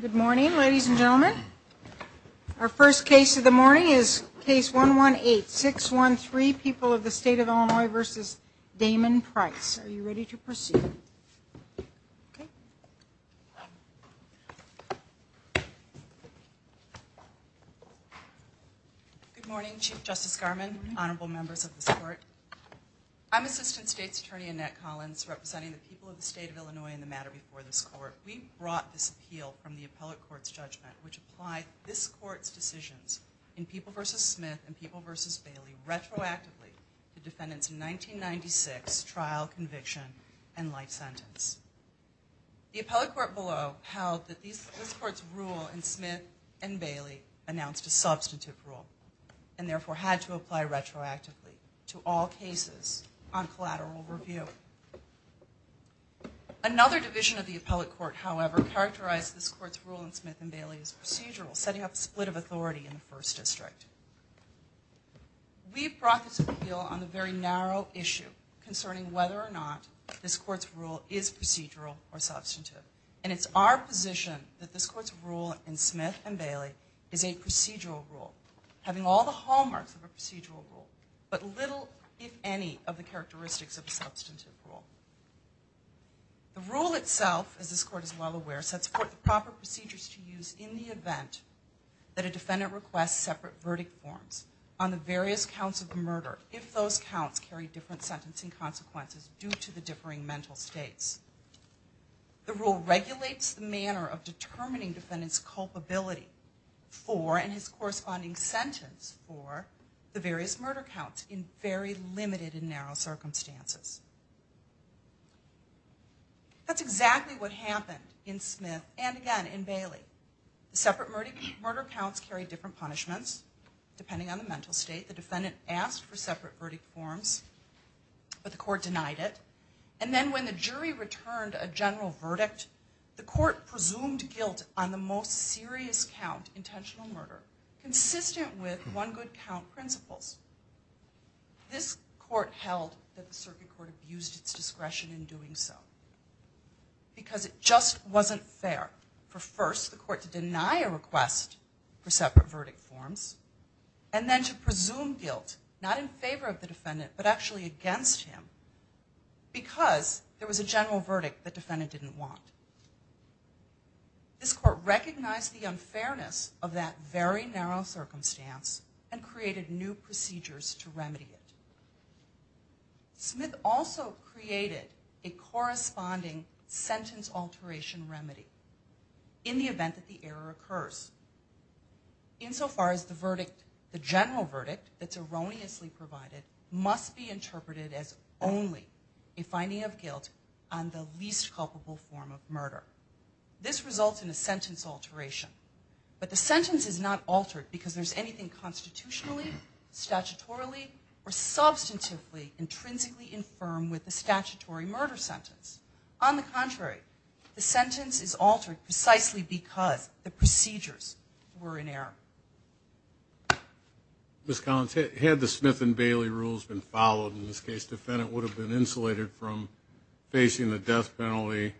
Good morning, ladies and gentlemen. Our first case of the morning is case 118613, People of the State of Illinois v. Damon Price. Are you ready to proceed? Good morning, Chief Justice Garmon, honorable members of this court. I'm Assistant State's Attorney Annette Collins representing the people of the State of Illinois in the matter before this court. We brought this appeal from the appellate court's judgment which applied this court's decisions in People v. Smith and People v. Bailey retroactively to defendants' 1996 trial conviction and life sentence. The appellate court below held that this court's rule in Smith and Bailey announced a substantive rule and therefore had to apply retroactively to all cases on collateral review. Another division of the appellate court, however, characterized this court's rule in Smith and Bailey as procedural, setting up a split of authority in the First District. We brought this appeal on the very narrow issue concerning whether or not this court's rule is procedural or substantive. And it's our position that this court's rule in Smith and Bailey is a procedural rule, having all the hallmarks of a procedural rule but little, if any, of the characteristics of a substantive rule. The rule itself, as this court is well aware, sets forth the proper procedures to use in the event that a defendant requests separate verdict forms on the various counts of murder if those counts carry different sentencing consequences due to the differing mental states. The rule regulates the manner of determining defendant's culpability for and his corresponding sentence for the various murder counts in very limited and narrow circumstances. That's exactly what happened in Smith and, again, in Bailey. The separate murder counts carried different punishments depending on the mental state. The defendant asked for separate verdict forms, but the court denied it. And then when the jury returned a general verdict, the court presumed guilt on the most serious count, intentional murder, consistent with one-good-count principles. This court held that the circuit court abused its discretion in doing so because it just wasn't fair for, first, the court to deny a request for separate verdict forms, and then to presume guilt not in favor of the defendant but actually against him because there was a general verdict the defendant didn't want. This court recognized the unfairness of that very narrow circumstance and created new procedures to remedy it. Smith also created a corresponding sentence alteration remedy in the event that the error occurs. Insofar as the verdict, the general verdict that's erroneously provided must be interpreted as only a finding of guilt on the least culpable form of murder. This results in a sentence alteration. But the sentence is not altered because there's anything constitutionally, statutorily, or substantively intrinsically infirm with the statutory murder sentence. On the contrary, the sentence is altered precisely because the procedures were in error. Ms. Collins, had the Smith and Bailey rules been followed in this case, the defendant would have been insulated from facing the death penalty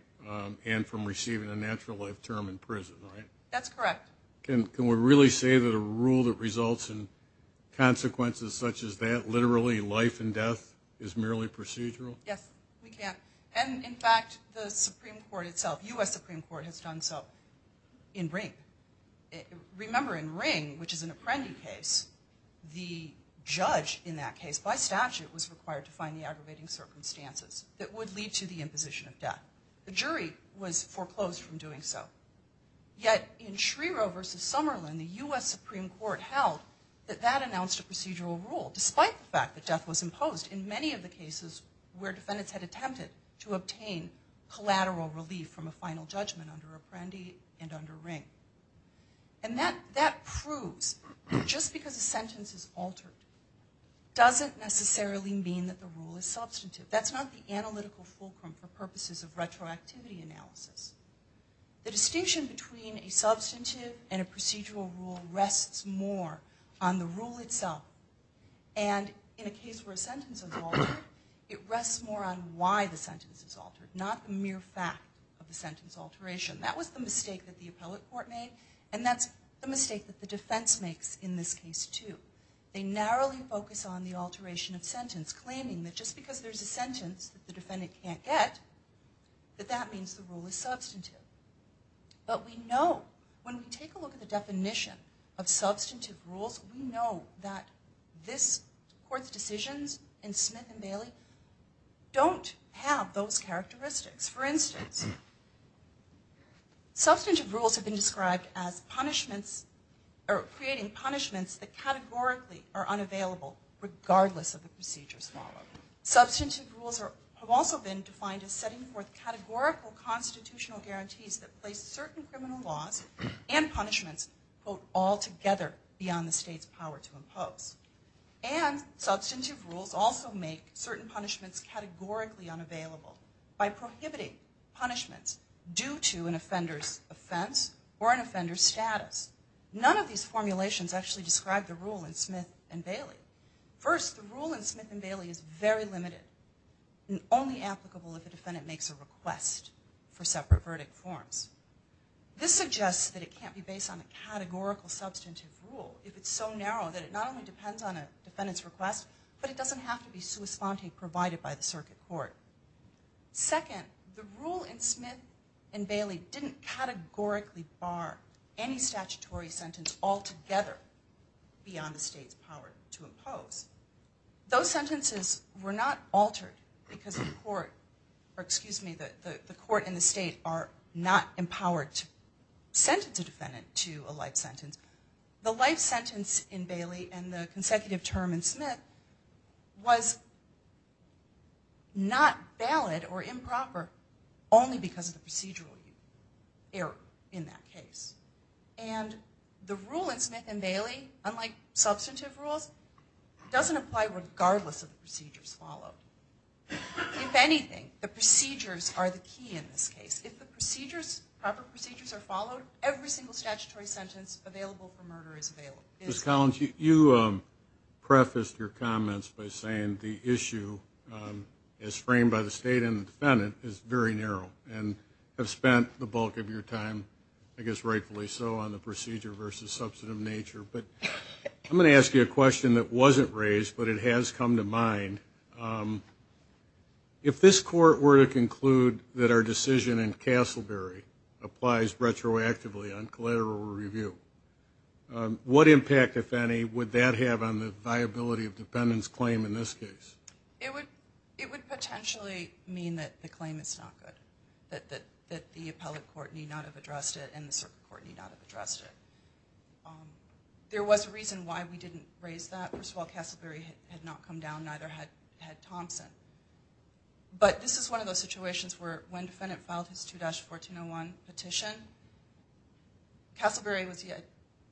and from receiving a natural life term in prison, right? That's correct. Can we really say that a rule that results in consequences such as that, literally life and death, is merely procedural? Yes, we can. And, in fact, the Supreme Court itself, U.S. Supreme Court, has done so in Ring. Remember, in Ring, which is an Apprendi case, the judge in that case, by statute, was required to find the aggravating circumstances that would lead to the imposition of death. The jury was foreclosed from doing so. Yet, in Schrierow v. Summerlin, the U.S. Supreme Court held that that announced a procedural rule, despite the fact that death was imposed. In many of the cases where defendants had attempted to obtain collateral relief from a final judgment under Apprendi and under Ring. And that proves just because a sentence is altered doesn't necessarily mean that the rule is substantive. That's not the analytical fulcrum for purposes of retroactivity analysis. The distinction between a substantive and a procedural rule rests more on the rule itself. And, in a case where a sentence is altered, it rests more on why the sentence is altered, not the mere fact of the sentence alteration. That was the mistake that the appellate court made, and that's the mistake that the defense makes in this case, too. They narrowly focus on the alteration of sentence, claiming that just because there's a sentence that the defendant can't get, that that means the rule is substantive. But we know, when we take a look at the definition of substantive rules, we know that this court's decisions in Smith v. Bailey don't have those characteristics. For instance, substantive rules have been described as creating punishments that categorically are unavailable, regardless of the procedures followed. Substantive rules have also been defined as setting forth categorical constitutional guarantees that place certain criminal laws and punishments, quote, altogether beyond the state's power to impose. And substantive rules also make certain punishments categorically unavailable by prohibiting punishments due to an offender's offense or an offender's status. None of these formulations actually describe the rule in Smith v. Bailey. First, the rule in Smith v. Bailey is very limited and only applicable if a defendant makes a request for separate verdict forms. This suggests that it can't be based on a categorical substantive rule if it's so narrow that it not only depends on a defendant's request, but it doesn't have to be sua sponte provided by the circuit court. Second, the rule in Smith v. Bailey didn't categorically bar any statutory sentence altogether beyond the state's power to impose. Those sentences were not altered because the court and the state are not empowered to sentence a defendant to a life sentence. The life sentence in Bailey and the consecutive term in Smith was not valid or improper only because of the procedural error in that case. And the rule in Smith v. Bailey, unlike substantive rules, doesn't apply regardless of the procedures followed. If anything, the procedures are the key in this case. If the proper procedures are followed, every single statutory sentence available for murder is available. Ms. Collins, you prefaced your comments by saying the issue as framed by the state and the defendant is very narrow and have spent the bulk of your time, I guess rightfully so, on the procedure versus substantive nature. But I'm going to ask you a question that wasn't raised, but it has come to mind. If this court were to conclude that our decision in Castleberry applies retroactively on collateral review, what impact, if any, would that have on the viability of defendant's claim in this case? It would potentially mean that the claim is not good, that the appellate court need not have addressed it and the circuit court need not have addressed it. There was a reason why we didn't raise that. First of all, Castleberry had not come down, neither had Thompson. But this is one of those situations where when defendant filed his 2-1401 petition, Castleberry was yet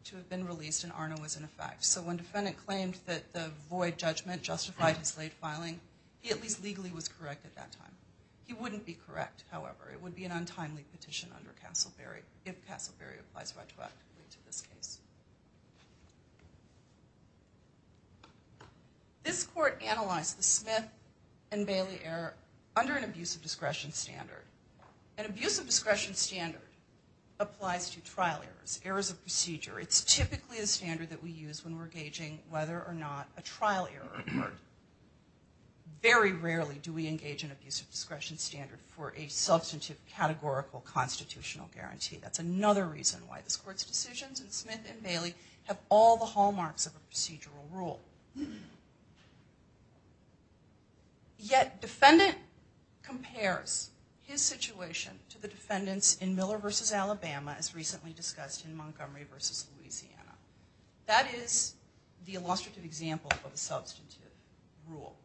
to have been released and ARNA was in effect. So when defendant claimed that the void judgment justified his late filing, he at least legally was correct at that time. He wouldn't be correct, however. It would be an untimely petition under Castleberry if Castleberry applies retroactively to this case. This court analyzed the Smith and Bailey error under an abuse of discretion standard. An abuse of discretion standard applies to trial errors, errors of procedure. It's typically a standard that we use when we're gauging whether or not a trial error occurred. Very rarely do we engage in abuse of discretion standard for a substantive categorical constitutional guarantee. That's another reason why this court's decisions in Smith and Bailey have all the hallmarks of a procedural rule. Yet defendant compares his situation to the defendants in Miller v. Alabama as recently discussed in Montgomery v. Louisiana. That is the illustrative example of a substantive rule.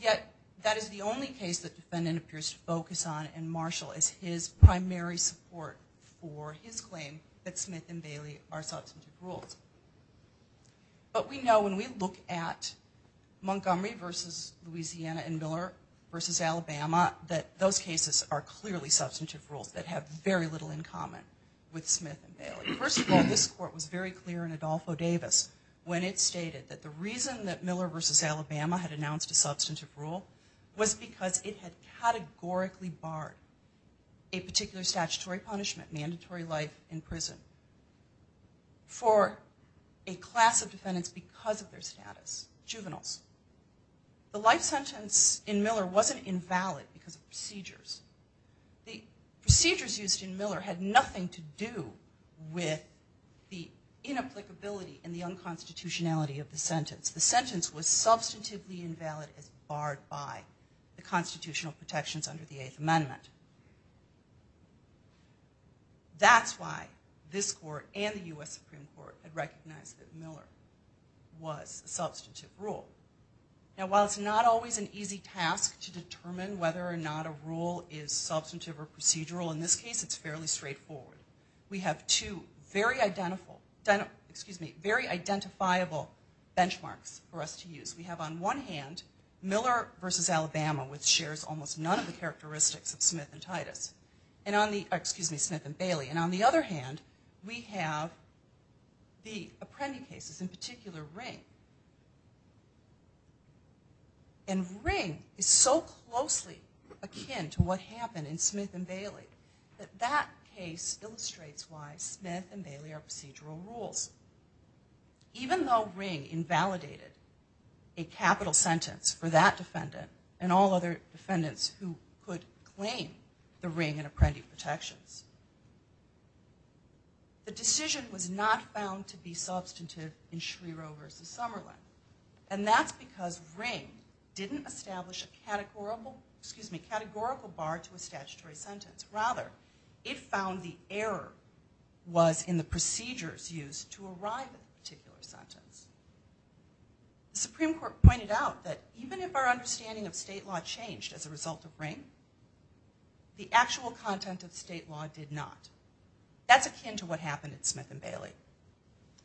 Yet that is the only case that defendant appears to focus on in Marshall as his primary support for his claim that Smith and Bailey are substantive rules. But we know when we look at Montgomery v. Louisiana and Miller v. Alabama that those cases are clearly substantive rules that have very little in common with Smith and Bailey. First of all, this court was very clear in Adolfo Davis when it stated that the reason that Miller v. Alabama had announced a substantive rule was because it had categorically barred a particular statutory punishment, mandatory life in prison for a class of defendants because of their status, juveniles. The life sentence in Miller wasn't invalid because of procedures. The procedures used in Miller had nothing to do with the inapplicability and the unconstitutionality of the sentence. The sentence was substantively invalid as barred by the constitutional protections under the Eighth Amendment. That's why this court and the U.S. Supreme Court had recognized that Miller was a substantive rule. Now while it's not always an easy task to determine whether or not a rule is substantive or procedural, in this case it's fairly straightforward. We have two very identifiable benchmarks for us to use. We have on one hand, Miller v. Alabama, which shares almost none of the characteristics of Smith and Bailey. And on the other hand, we have the Apprendi cases, in particular Ring. And Ring is so closely akin to what happened in Smith and Bailey that that case illustrates why Smith and Bailey are procedural rules. Even though Ring invalidated a capital sentence for that defendant and all other defendants who could claim the Ring and Apprendi protections, the decision was not found to be substantive in Schreero v. Summerlin. And that's because Ring didn't establish a categorical bar to a statutory sentence. Rather, it found the error was in the procedures used to arrive at the particular sentence. The Supreme Court pointed out that even if our understanding of state law changed as a result of Ring, the actual content of state law did not. That's akin to what happened in Smith and Bailey.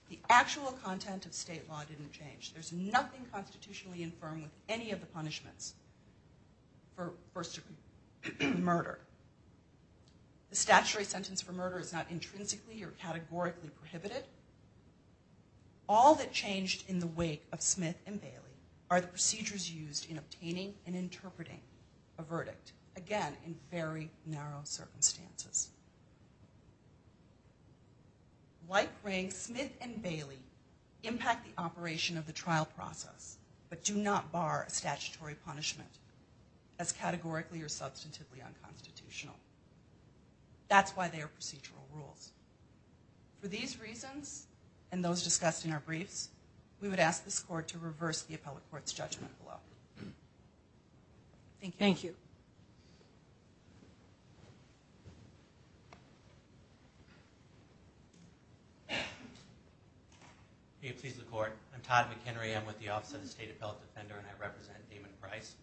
The actual content of state law didn't change. There's nothing constitutionally infirm with any of the punishments for first degree murder. The statutory sentence for murder is not intrinsically or categorically prohibited. All that changed in the wake of Smith and Bailey are the procedures used in obtaining and interpreting a verdict, again, in very narrow circumstances. Like Ring, Smith and Bailey impact the operation of the trial process but do not bar a statutory punishment as categorically or substantively unconstitutional. That's why they are procedural rules. For these reasons and those discussed in our briefs, we would ask this Court to reverse the appellate court's judgment below. Thank you. Thank you. May it please the Court. I'm Todd McHenry. I'm with the Office of the State Appellate Defender and I represent Damon Price.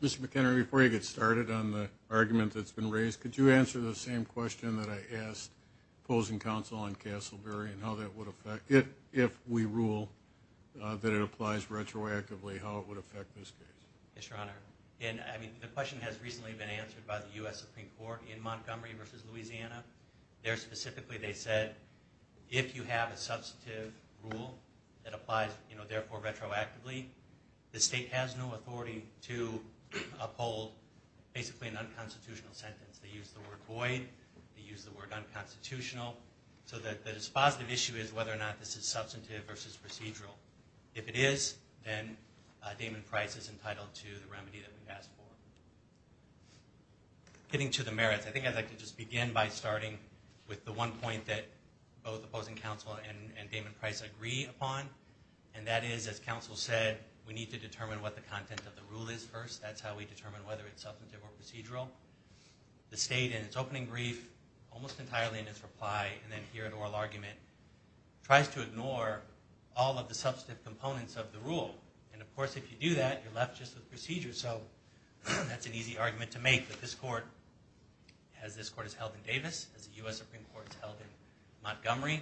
Mr. McHenry, before you get started on the argument that's been raised, could you answer the same question that I asked opposing counsel on Castleberry and how that would affect, if we rule that it applies retroactively, how it would affect this case? Yes, Your Honor. The question has recently been answered by the U.S. Supreme Court in Montgomery v. Louisiana. There, specifically, they said if you have a substantive rule that applies, therefore, retroactively, the state has no authority to uphold, basically, an unconstitutional sentence. They use the word void. They use the word unconstitutional. So the dispositive issue is whether or not this is substantive versus procedural. If it is, then Damon Price is entitled to the remedy that we've asked for. Getting to the merits, I think I'd like to just begin by starting with the one point that both opposing counsel and Damon Price agree upon, and that is, as counsel said, we need to determine what the content of the rule is first. The state, in its opening brief, almost entirely in its reply, and then here in oral argument, tries to ignore all of the substantive components of the rule. And, of course, if you do that, you're left just with procedures. So that's an easy argument to make. But this court, as this court is held in Davis, as the U.S. Supreme Court is held in Montgomery,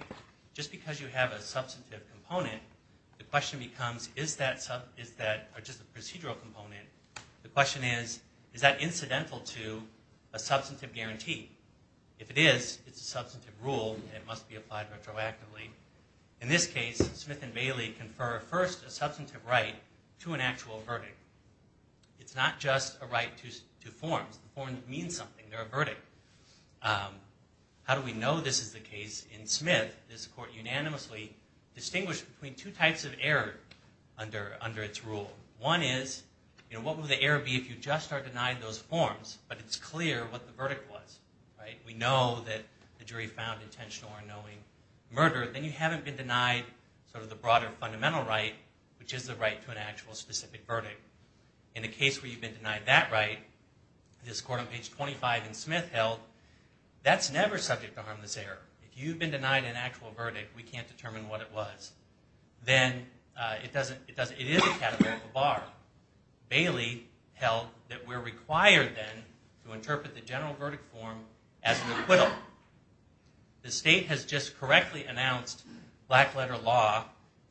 just because you have a substantive component, the question becomes, is that just a procedural component? The question is, is that incidental to a substantive guarantee? If it is, it's a substantive rule, and it must be applied retroactively. In this case, Smith and Bailey confer first a substantive right to an actual verdict. It's not just a right to forms. Forms mean something. They're a verdict. How do we know this is the case in Smith? This court unanimously distinguished between two types of error under its rule. One is, what would the error be if you just are denied those forms, but it's clear what the verdict was? We know that the jury found intentional or unknowing murder. Then you haven't been denied the broader fundamental right, which is the right to an actual specific verdict. In a case where you've been denied that right, this court on page 25 in Smith held, that's never subject to harmless error. If you've been denied an actual verdict, we can't determine what it was. It is a categorical bar. Bailey held that we're required then to interpret the general verdict form as an acquittal. The state has just correctly announced black letter law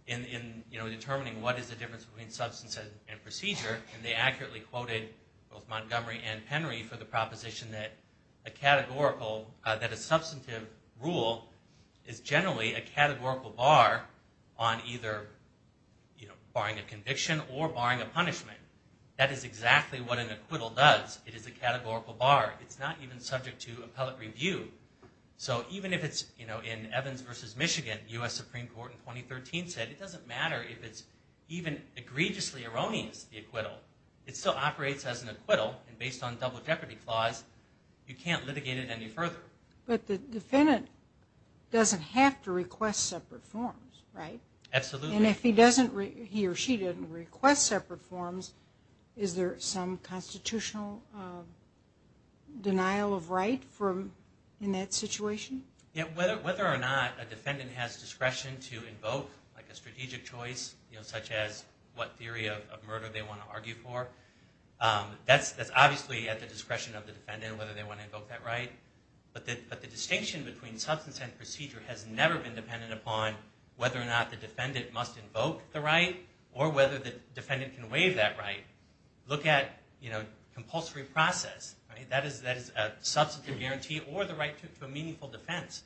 in determining what is the difference between substance and procedure. They accurately quoted both Montgomery and Penry for the proposition that a substantive rule is generally a categorical bar on either barring a conviction or barring a punishment. That is exactly what an acquittal does. It is a categorical bar. It's not even subject to appellate review. Even if it's in Evans v. Michigan, U.S. Supreme Court in 2013 said, it doesn't matter if it's even egregiously erroneous, the acquittal. It still operates as an acquittal, and based on double jeopardy clause, you can't litigate it any further. But the defendant doesn't have to request separate forms, right? Absolutely. And if he or she doesn't request separate forms, is there some constitutional denial of right in that situation? Whether or not a defendant has discretion to invoke a strategic choice, such as what theory of murder they want to argue for, that's obviously at the discretion of the defendant, whether they want to invoke that right. But the distinction between substance and procedure has never been dependent upon whether or not the defendant must invoke the right or whether the defendant can waive that right. Look at compulsory process. That is a substantive guarantee or the right to a meaningful defense.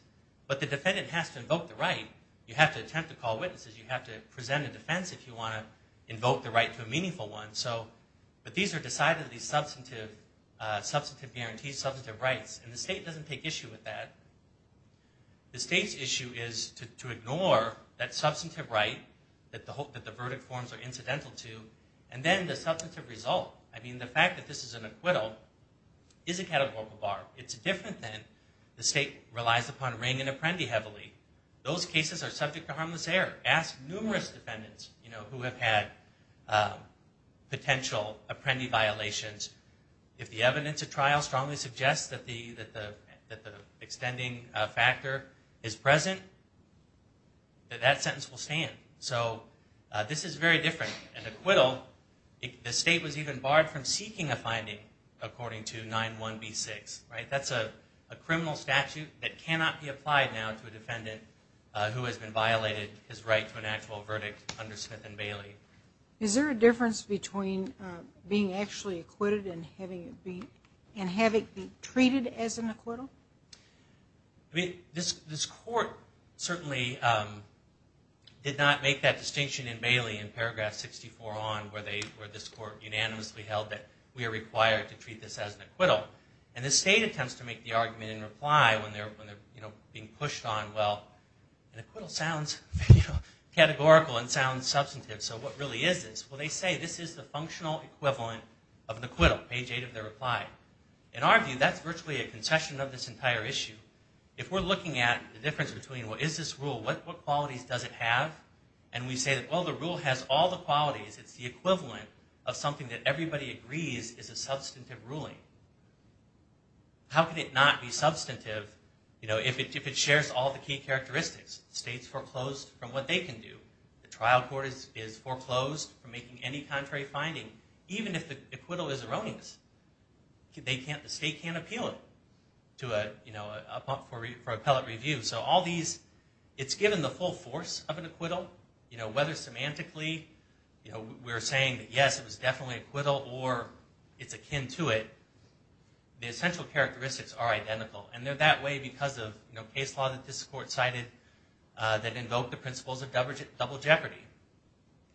But the defendant has to invoke the right. You have to attempt to call witnesses. You have to present a defense if you want to invoke the right to a meaningful one. But these are decidedly substantive guarantees, substantive rights. And the state doesn't take issue with that. The state's issue is to ignore that substantive right that the verdict forms are incidental to, and then the substantive result. I mean, the fact that this is an acquittal is a categorical bar. It's different than the state relies upon Ring and Apprendi heavily. Those cases are subject to harmless error. Ask numerous defendants who have had potential Apprendi violations. If the evidence at trial strongly suggests that the extending factor is present, that sentence will stand. So this is very different. In acquittal, the state was even barred from seeking a finding according to 9-1-B-6. That's a criminal statute that cannot be applied now to a defendant who has been violated his right to an actual verdict under Smith and Bailey. Is there a difference between being actually acquitted and having it be treated as an acquittal? This court certainly did not make that distinction in Bailey in paragraph 64 on where this court unanimously held that we are required to treat this as an acquittal. And the state attempts to make the argument in reply when they're being pushed on, well, an acquittal sounds categorical and sounds substantive, so what really is this? Well, they say this is the functional equivalent of an acquittal, page 8 of their reply. In our view, that's virtually a concession of this entire issue. If we're looking at the difference between, well, is this rule, what qualities does it have? And we say, well, the rule has all the qualities. It's the equivalent of something that everybody agrees is a substantive ruling. How could it not be substantive if it shares all the key characteristics? The state's foreclosed from what they can do. The trial court is foreclosed from making any contrary finding, even if the acquittal is erroneous. The state can't appeal it for appellate review. It's given the full force of an acquittal, whether semantically we're saying, yes, it was definitely an acquittal, or it's akin to it, the essential characteristics are identical. And they're that way because of case law that this court cited that invoked the principles of double jeopardy.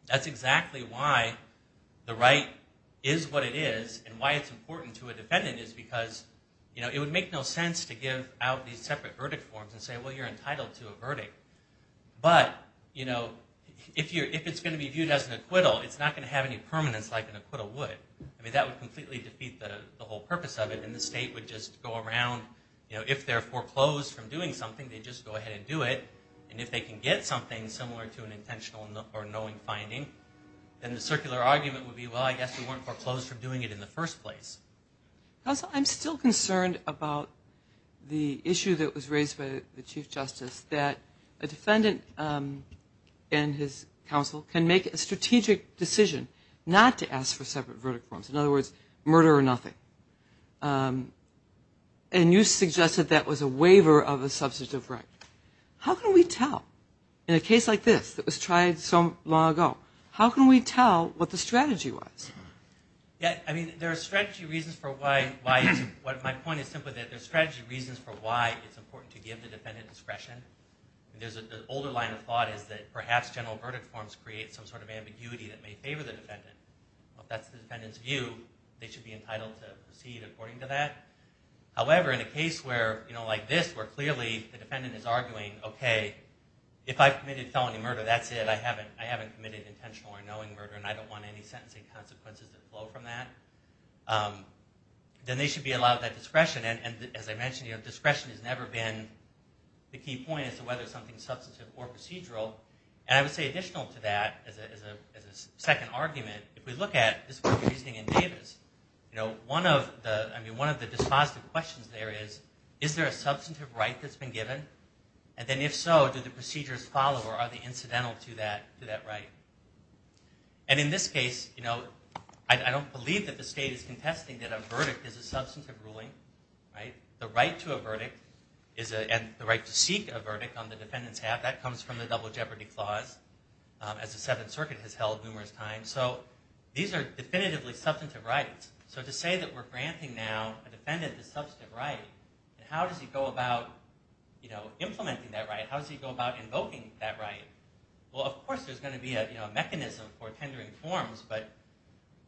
That's exactly why the right is what it is, and why it's important to a defendant, is because it would make no sense to give out these separate verdict forms and say, well, you're entitled to a verdict. But if it's going to be viewed as an acquittal, it's not going to have any permanence like an acquittal would. That would completely defeat the whole purpose of it, and the state would just go around. If they're foreclosed from doing something, they'd just go ahead and do it. And if they can get something similar to an intentional or knowing finding, then the circular argument would be, well, I guess we weren't foreclosed from doing it in the first place. Counsel, I'm still concerned about the issue that was raised by the Chief Justice, that a defendant and his counsel can make a strategic decision not to ask for separate verdict forms. In other words, murder or nothing. And you suggested that was a waiver of a substantive right. How can we tell, in a case like this that was tried so long ago, how can we tell what the strategy was? I mean, there are strategy reasons for why it's important to give the defendant discretion. The older line of thought is that perhaps general verdict forms create some sort of ambiguity that may favor the defendant. If that's the defendant's view, they should be entitled to proceed according to that. However, in a case like this, where clearly the defendant is arguing, okay, if I've committed felony murder, that's it, I haven't committed intentional or knowing murder, and I don't want any sentencing consequences that flow from that, then they should be allowed that discretion. And as I mentioned, discretion has never been the key point as to whether something is substantive or procedural. And I would say additional to that, as a second argument, if we look at this reasoning in Davis, one of the dispositive questions there is, is there a substantive right that's been given? And then if so, do the procedures follow, or are they incidental to that right? And in this case, I don't believe that the state is contesting that a verdict is a substantive ruling. The right to a verdict and the right to seek a verdict on the defendant's half, that comes from the double jeopardy clause, as the Seventh Circuit has held numerous times. And so these are definitively substantive rights. So to say that we're granting now a defendant a substantive right, and how does he go about implementing that right, how does he go about invoking that right? Well, of course there's going to be a mechanism for tendering forms, but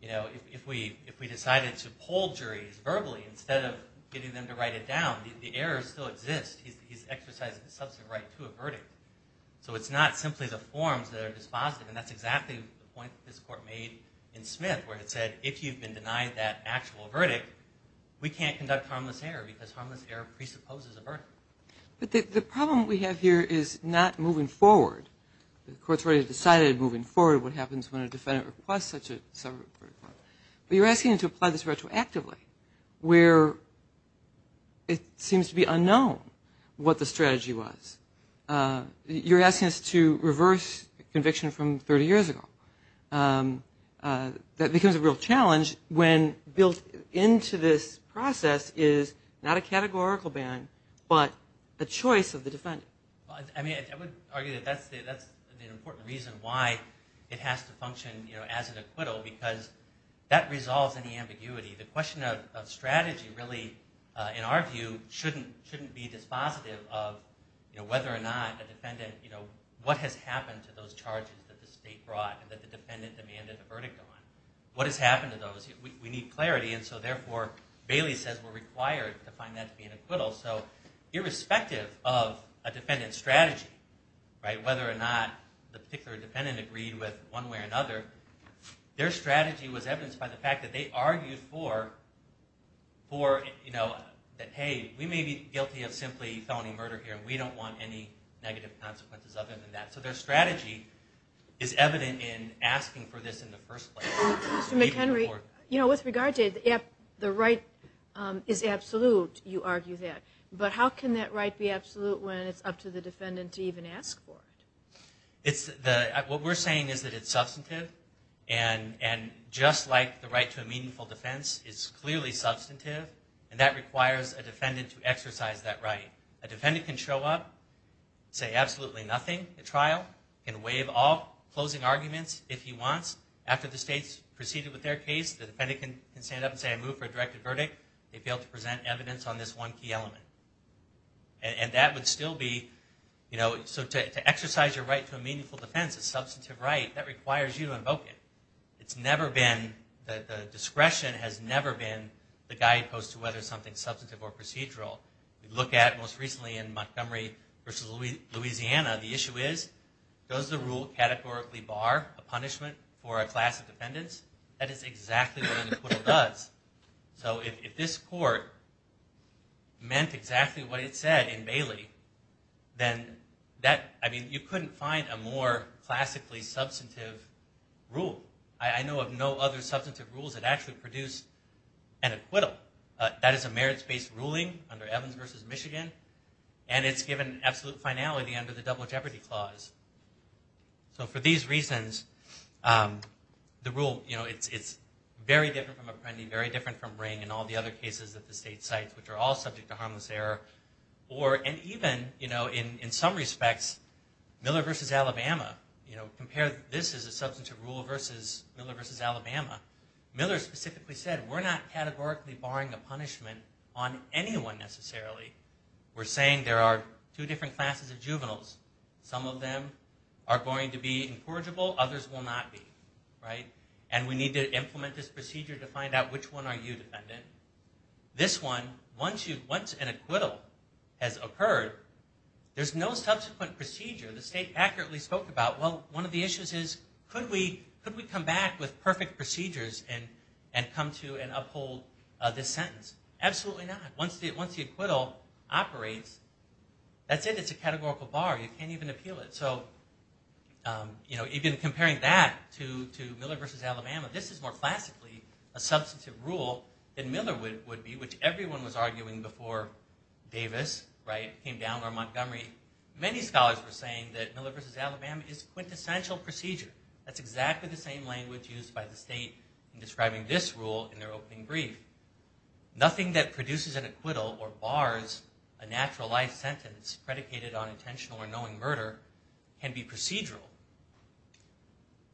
if we decided to poll juries verbally instead of getting them to write it down, the errors still exist. He's exercising a substantive right to a verdict. So it's not simply the forms that are dispositive, and that's exactly the point that this Court made in Smith, where it said if you've been denied that actual verdict, we can't conduct harmless error, because harmless error presupposes a verdict. But the problem we have here is not moving forward. The Court's already decided moving forward what happens when a defendant requests such a subverted clause. But you're asking them to apply this retroactively, where it seems to be unknown what the strategy was. You're asking us to reverse conviction from 30 years ago. That becomes a real challenge when built into this process is not a categorical ban, but a choice of the defendant. I mean, I would argue that that's an important reason why it has to function as an acquittal, because that resolves any ambiguity. The question of strategy really, in our view, shouldn't be dispositive of whether or not a defendant, what has happened to those charges that the State brought and that the defendant demanded a verdict on. What has happened to those? We need clarity, and so therefore, Bailey says we're required to find that to be an acquittal. So irrespective of a defendant's strategy, whether or not the particular defendant agreed with one way or another, their strategy was evidenced by the fact that they argued for that, hey, we may be guilty of simply felony murder here, and we don't want any negative consequences other than that. So their strategy is evident in asking for this in the first place. Mr. McHenry, with regard to the right is absolute, you argue that, but how can that right be absolute when it's up to the defendant to even ask for it? What we're saying is that it's substantive, and just like the right to a meaningful defense, it's clearly substantive, and that requires a defendant to exercise that right. A defendant can show up, say absolutely nothing at trial, can waive all closing arguments if he wants. After the State's proceeded with their case, the defendant can stand up and say I move for a directed verdict. They fail to present evidence on this one key element. And that would still be, you know, so to exercise your right to a meaningful defense, a substantive right, that requires you to invoke it. It's never been, the discretion has never been the guidepost to whether something's substantive or procedural. We look at it most recently in Montgomery versus Louisiana. The issue is, does the rule categorically bar a punishment for a class of defendants? That is exactly what an acquittal does. So if this court meant exactly what it said in Bailey, then that, I mean, you couldn't find a more classically substantive rule. I know of no other substantive rules that actually produce an acquittal. That is a merits-based ruling under Evans versus Michigan, and it's given absolute finality under the Double Jeopardy Clause. So for these reasons, the rule, you know, it's very different from Apprendi, very different from Ring, and all the other cases that the State cites, which are all subject to harmless error. Or, and even, you know, in some respects, Miller versus Alabama. You know, compare this as a substantive rule versus Miller versus Alabama. Miller specifically said, we're not categorically barring a punishment on anyone necessarily. We're saying there are two different classes of juveniles. Some of them are going to be incorrigible, others will not be. Right? And we need to implement this procedure to find out which one are you, defendant. This one, once an acquittal has occurred, there's no subsequent procedure. The State accurately spoke about, well, one of the issues is, could we come back with perfect procedures and come to and uphold this sentence? Absolutely not. Once the acquittal operates, that's it. It's a categorical bar. You can't even appeal it. So, you know, even comparing that to Miller versus Alabama, this is more classically a substantive rule than Miller would be, which everyone was arguing before Davis, right, came down, or Montgomery. Many scholars were saying that Miller versus Alabama is a quintessential procedure. That's exactly the same language used by the State in describing this rule in their opening brief. Nothing that produces an acquittal or bars a natural life sentence predicated on intentional or knowing murder can be procedural.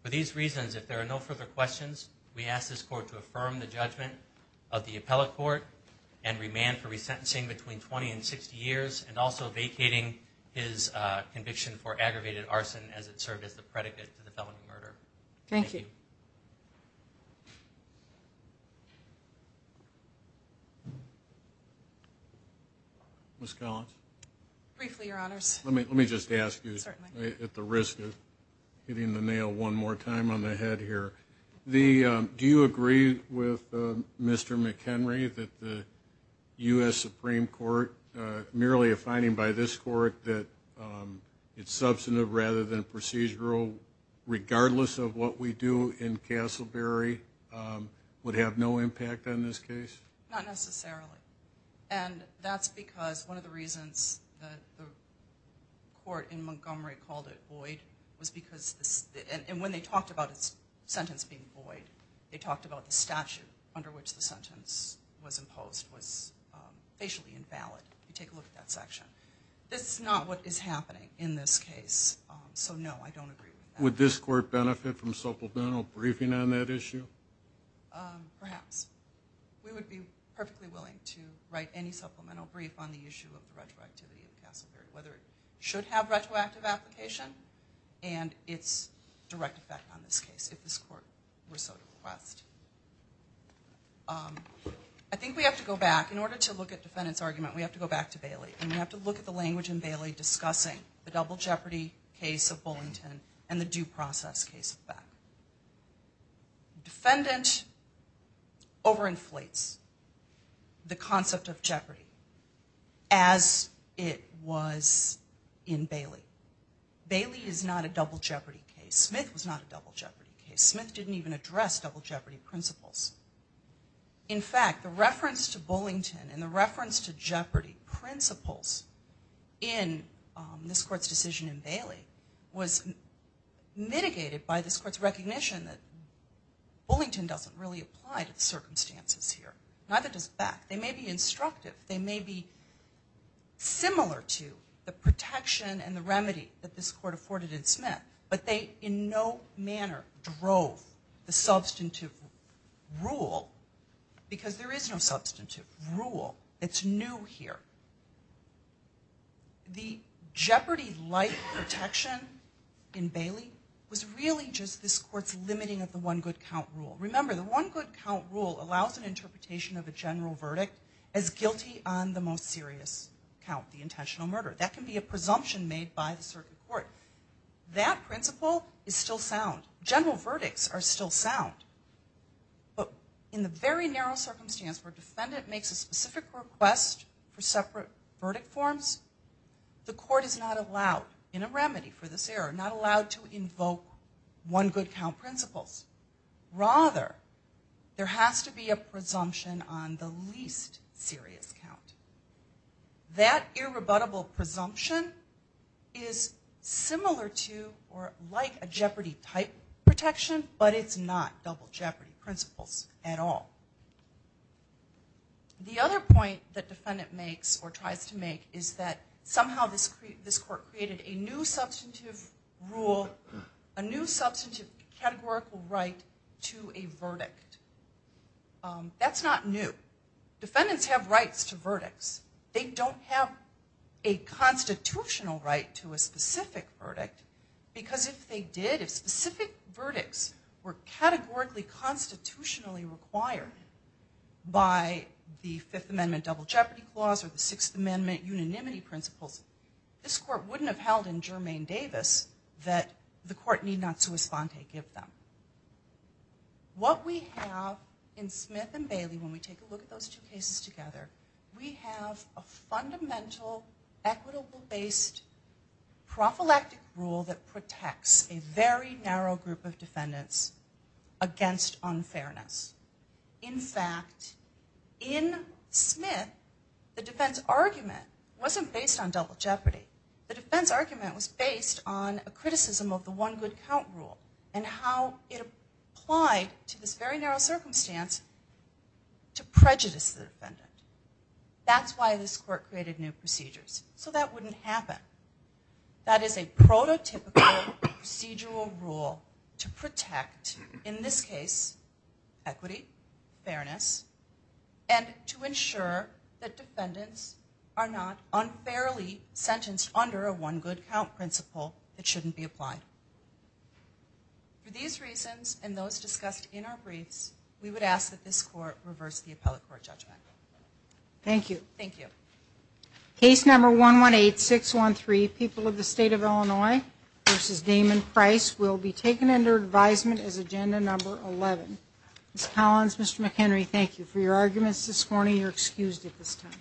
For these reasons, if there are no further questions, we ask this Court to affirm the judgment of the appellate court and remand for resentencing between 20 and 60 years and also vacating his conviction for aggravated arson as it served as the predicate to the felony murder. Thank you. Ms. Collins? Briefly, Your Honors. Let me just ask you at the risk of hitting the nail one more time on the head here. Do you agree with Mr. McHenry that the U.S. Supreme Court, merely a finding by this Court, that it's substantive rather than procedural, regardless of what we do in Castleberry, would have no impact on this case? Not necessarily. And that's because one of the reasons the court in Montgomery called it void was because, and when they talked about its sentence being void, they talked about the statute under which the sentence was imposed was facially invalid. Take a look at that section. That's not what is happening in this case, so no, I don't agree with that. Would this Court benefit from supplemental briefing on that issue? Perhaps. We would be perfectly willing to write any supplemental brief on the issue of the retroactivity of Castleberry, whether it should have retroactive application and its direct effect on this case, if this Court were so to request. I think we have to go back. In order to look at defendant's argument, we have to go back to Bailey, and we have to look at the language in Bailey discussing the double jeopardy case of Bullington and the due process case of Beck. Defendant overinflates the concept of jeopardy as it was in Bailey. Bailey is not a double jeopardy case. Smith was not a double jeopardy case. Smith didn't even address double jeopardy principles. In fact, the reference to Bullington and the reference to jeopardy principles in this Court's decision in Bailey was mitigated by this Court's recognition that Bullington doesn't really apply to the circumstances here, neither does Beck. They may be instructive. They may be similar to the protection and the remedy that this Court afforded in Smith, but they in no manner drove the substantive rule, because there is no substantive rule. It's new here. The jeopardy-like protection in Bailey was really just this Court's limiting of the one-good-count rule. Remember, the one-good-count rule allows an interpretation of a general verdict as guilty on the most serious count, the intentional murder. That can be a presumption made by the circuit court. That principle is still sound. General verdicts are still sound. But in the very narrow circumstance where a defendant makes a specific request for separate verdict forms, the Court is not allowed in a remedy for this error, not allowed to invoke one-good-count principles. Rather, there has to be a presumption on the least serious count. That irrebuttable presumption is similar to or like a jeopardy-type protection, but it's not double jeopardy principles at all. The other point that defendant makes or tries to make is that somehow this Court created a new substantive rule, a new substantive categorical right to a verdict. That's not new. Defendants have rights to verdicts. They don't have a constitutional right to a specific verdict, because if they did, if specific verdicts were categorically constitutionally required by the Fifth Amendment double jeopardy clause or the Sixth Amendment unanimity principles, this Court wouldn't have held in Germain-Davis that the Court need not sua sponte give them. What we have in Smith and Bailey when we take a look at those two cases together, we have a fundamental equitable-based prophylactic rule that protects a very narrow group of defendants against unfairness. In fact, in Smith, the defense argument wasn't based on double jeopardy. The defense argument was based on a criticism of the one-good-count rule and how it applied to this very narrow circumstance to prejudice the defendant. That's why this Court created new procedures, so that wouldn't happen. That is a prototypical procedural rule to protect, in this case, equity, fairness, and to ensure that defendants are not unfairly sentenced under a one-good-count principle that shouldn't be applied. For these reasons and those discussed in our briefs, we would ask that this Court reverse the appellate court judgment. Thank you. Thank you. Case number 118613, People of the State of Illinois v. Damon Price, will be taken under advisement as agenda number 11. Ms. Collins, Mr. McHenry, thank you for your arguments this morning. You're excused at this time.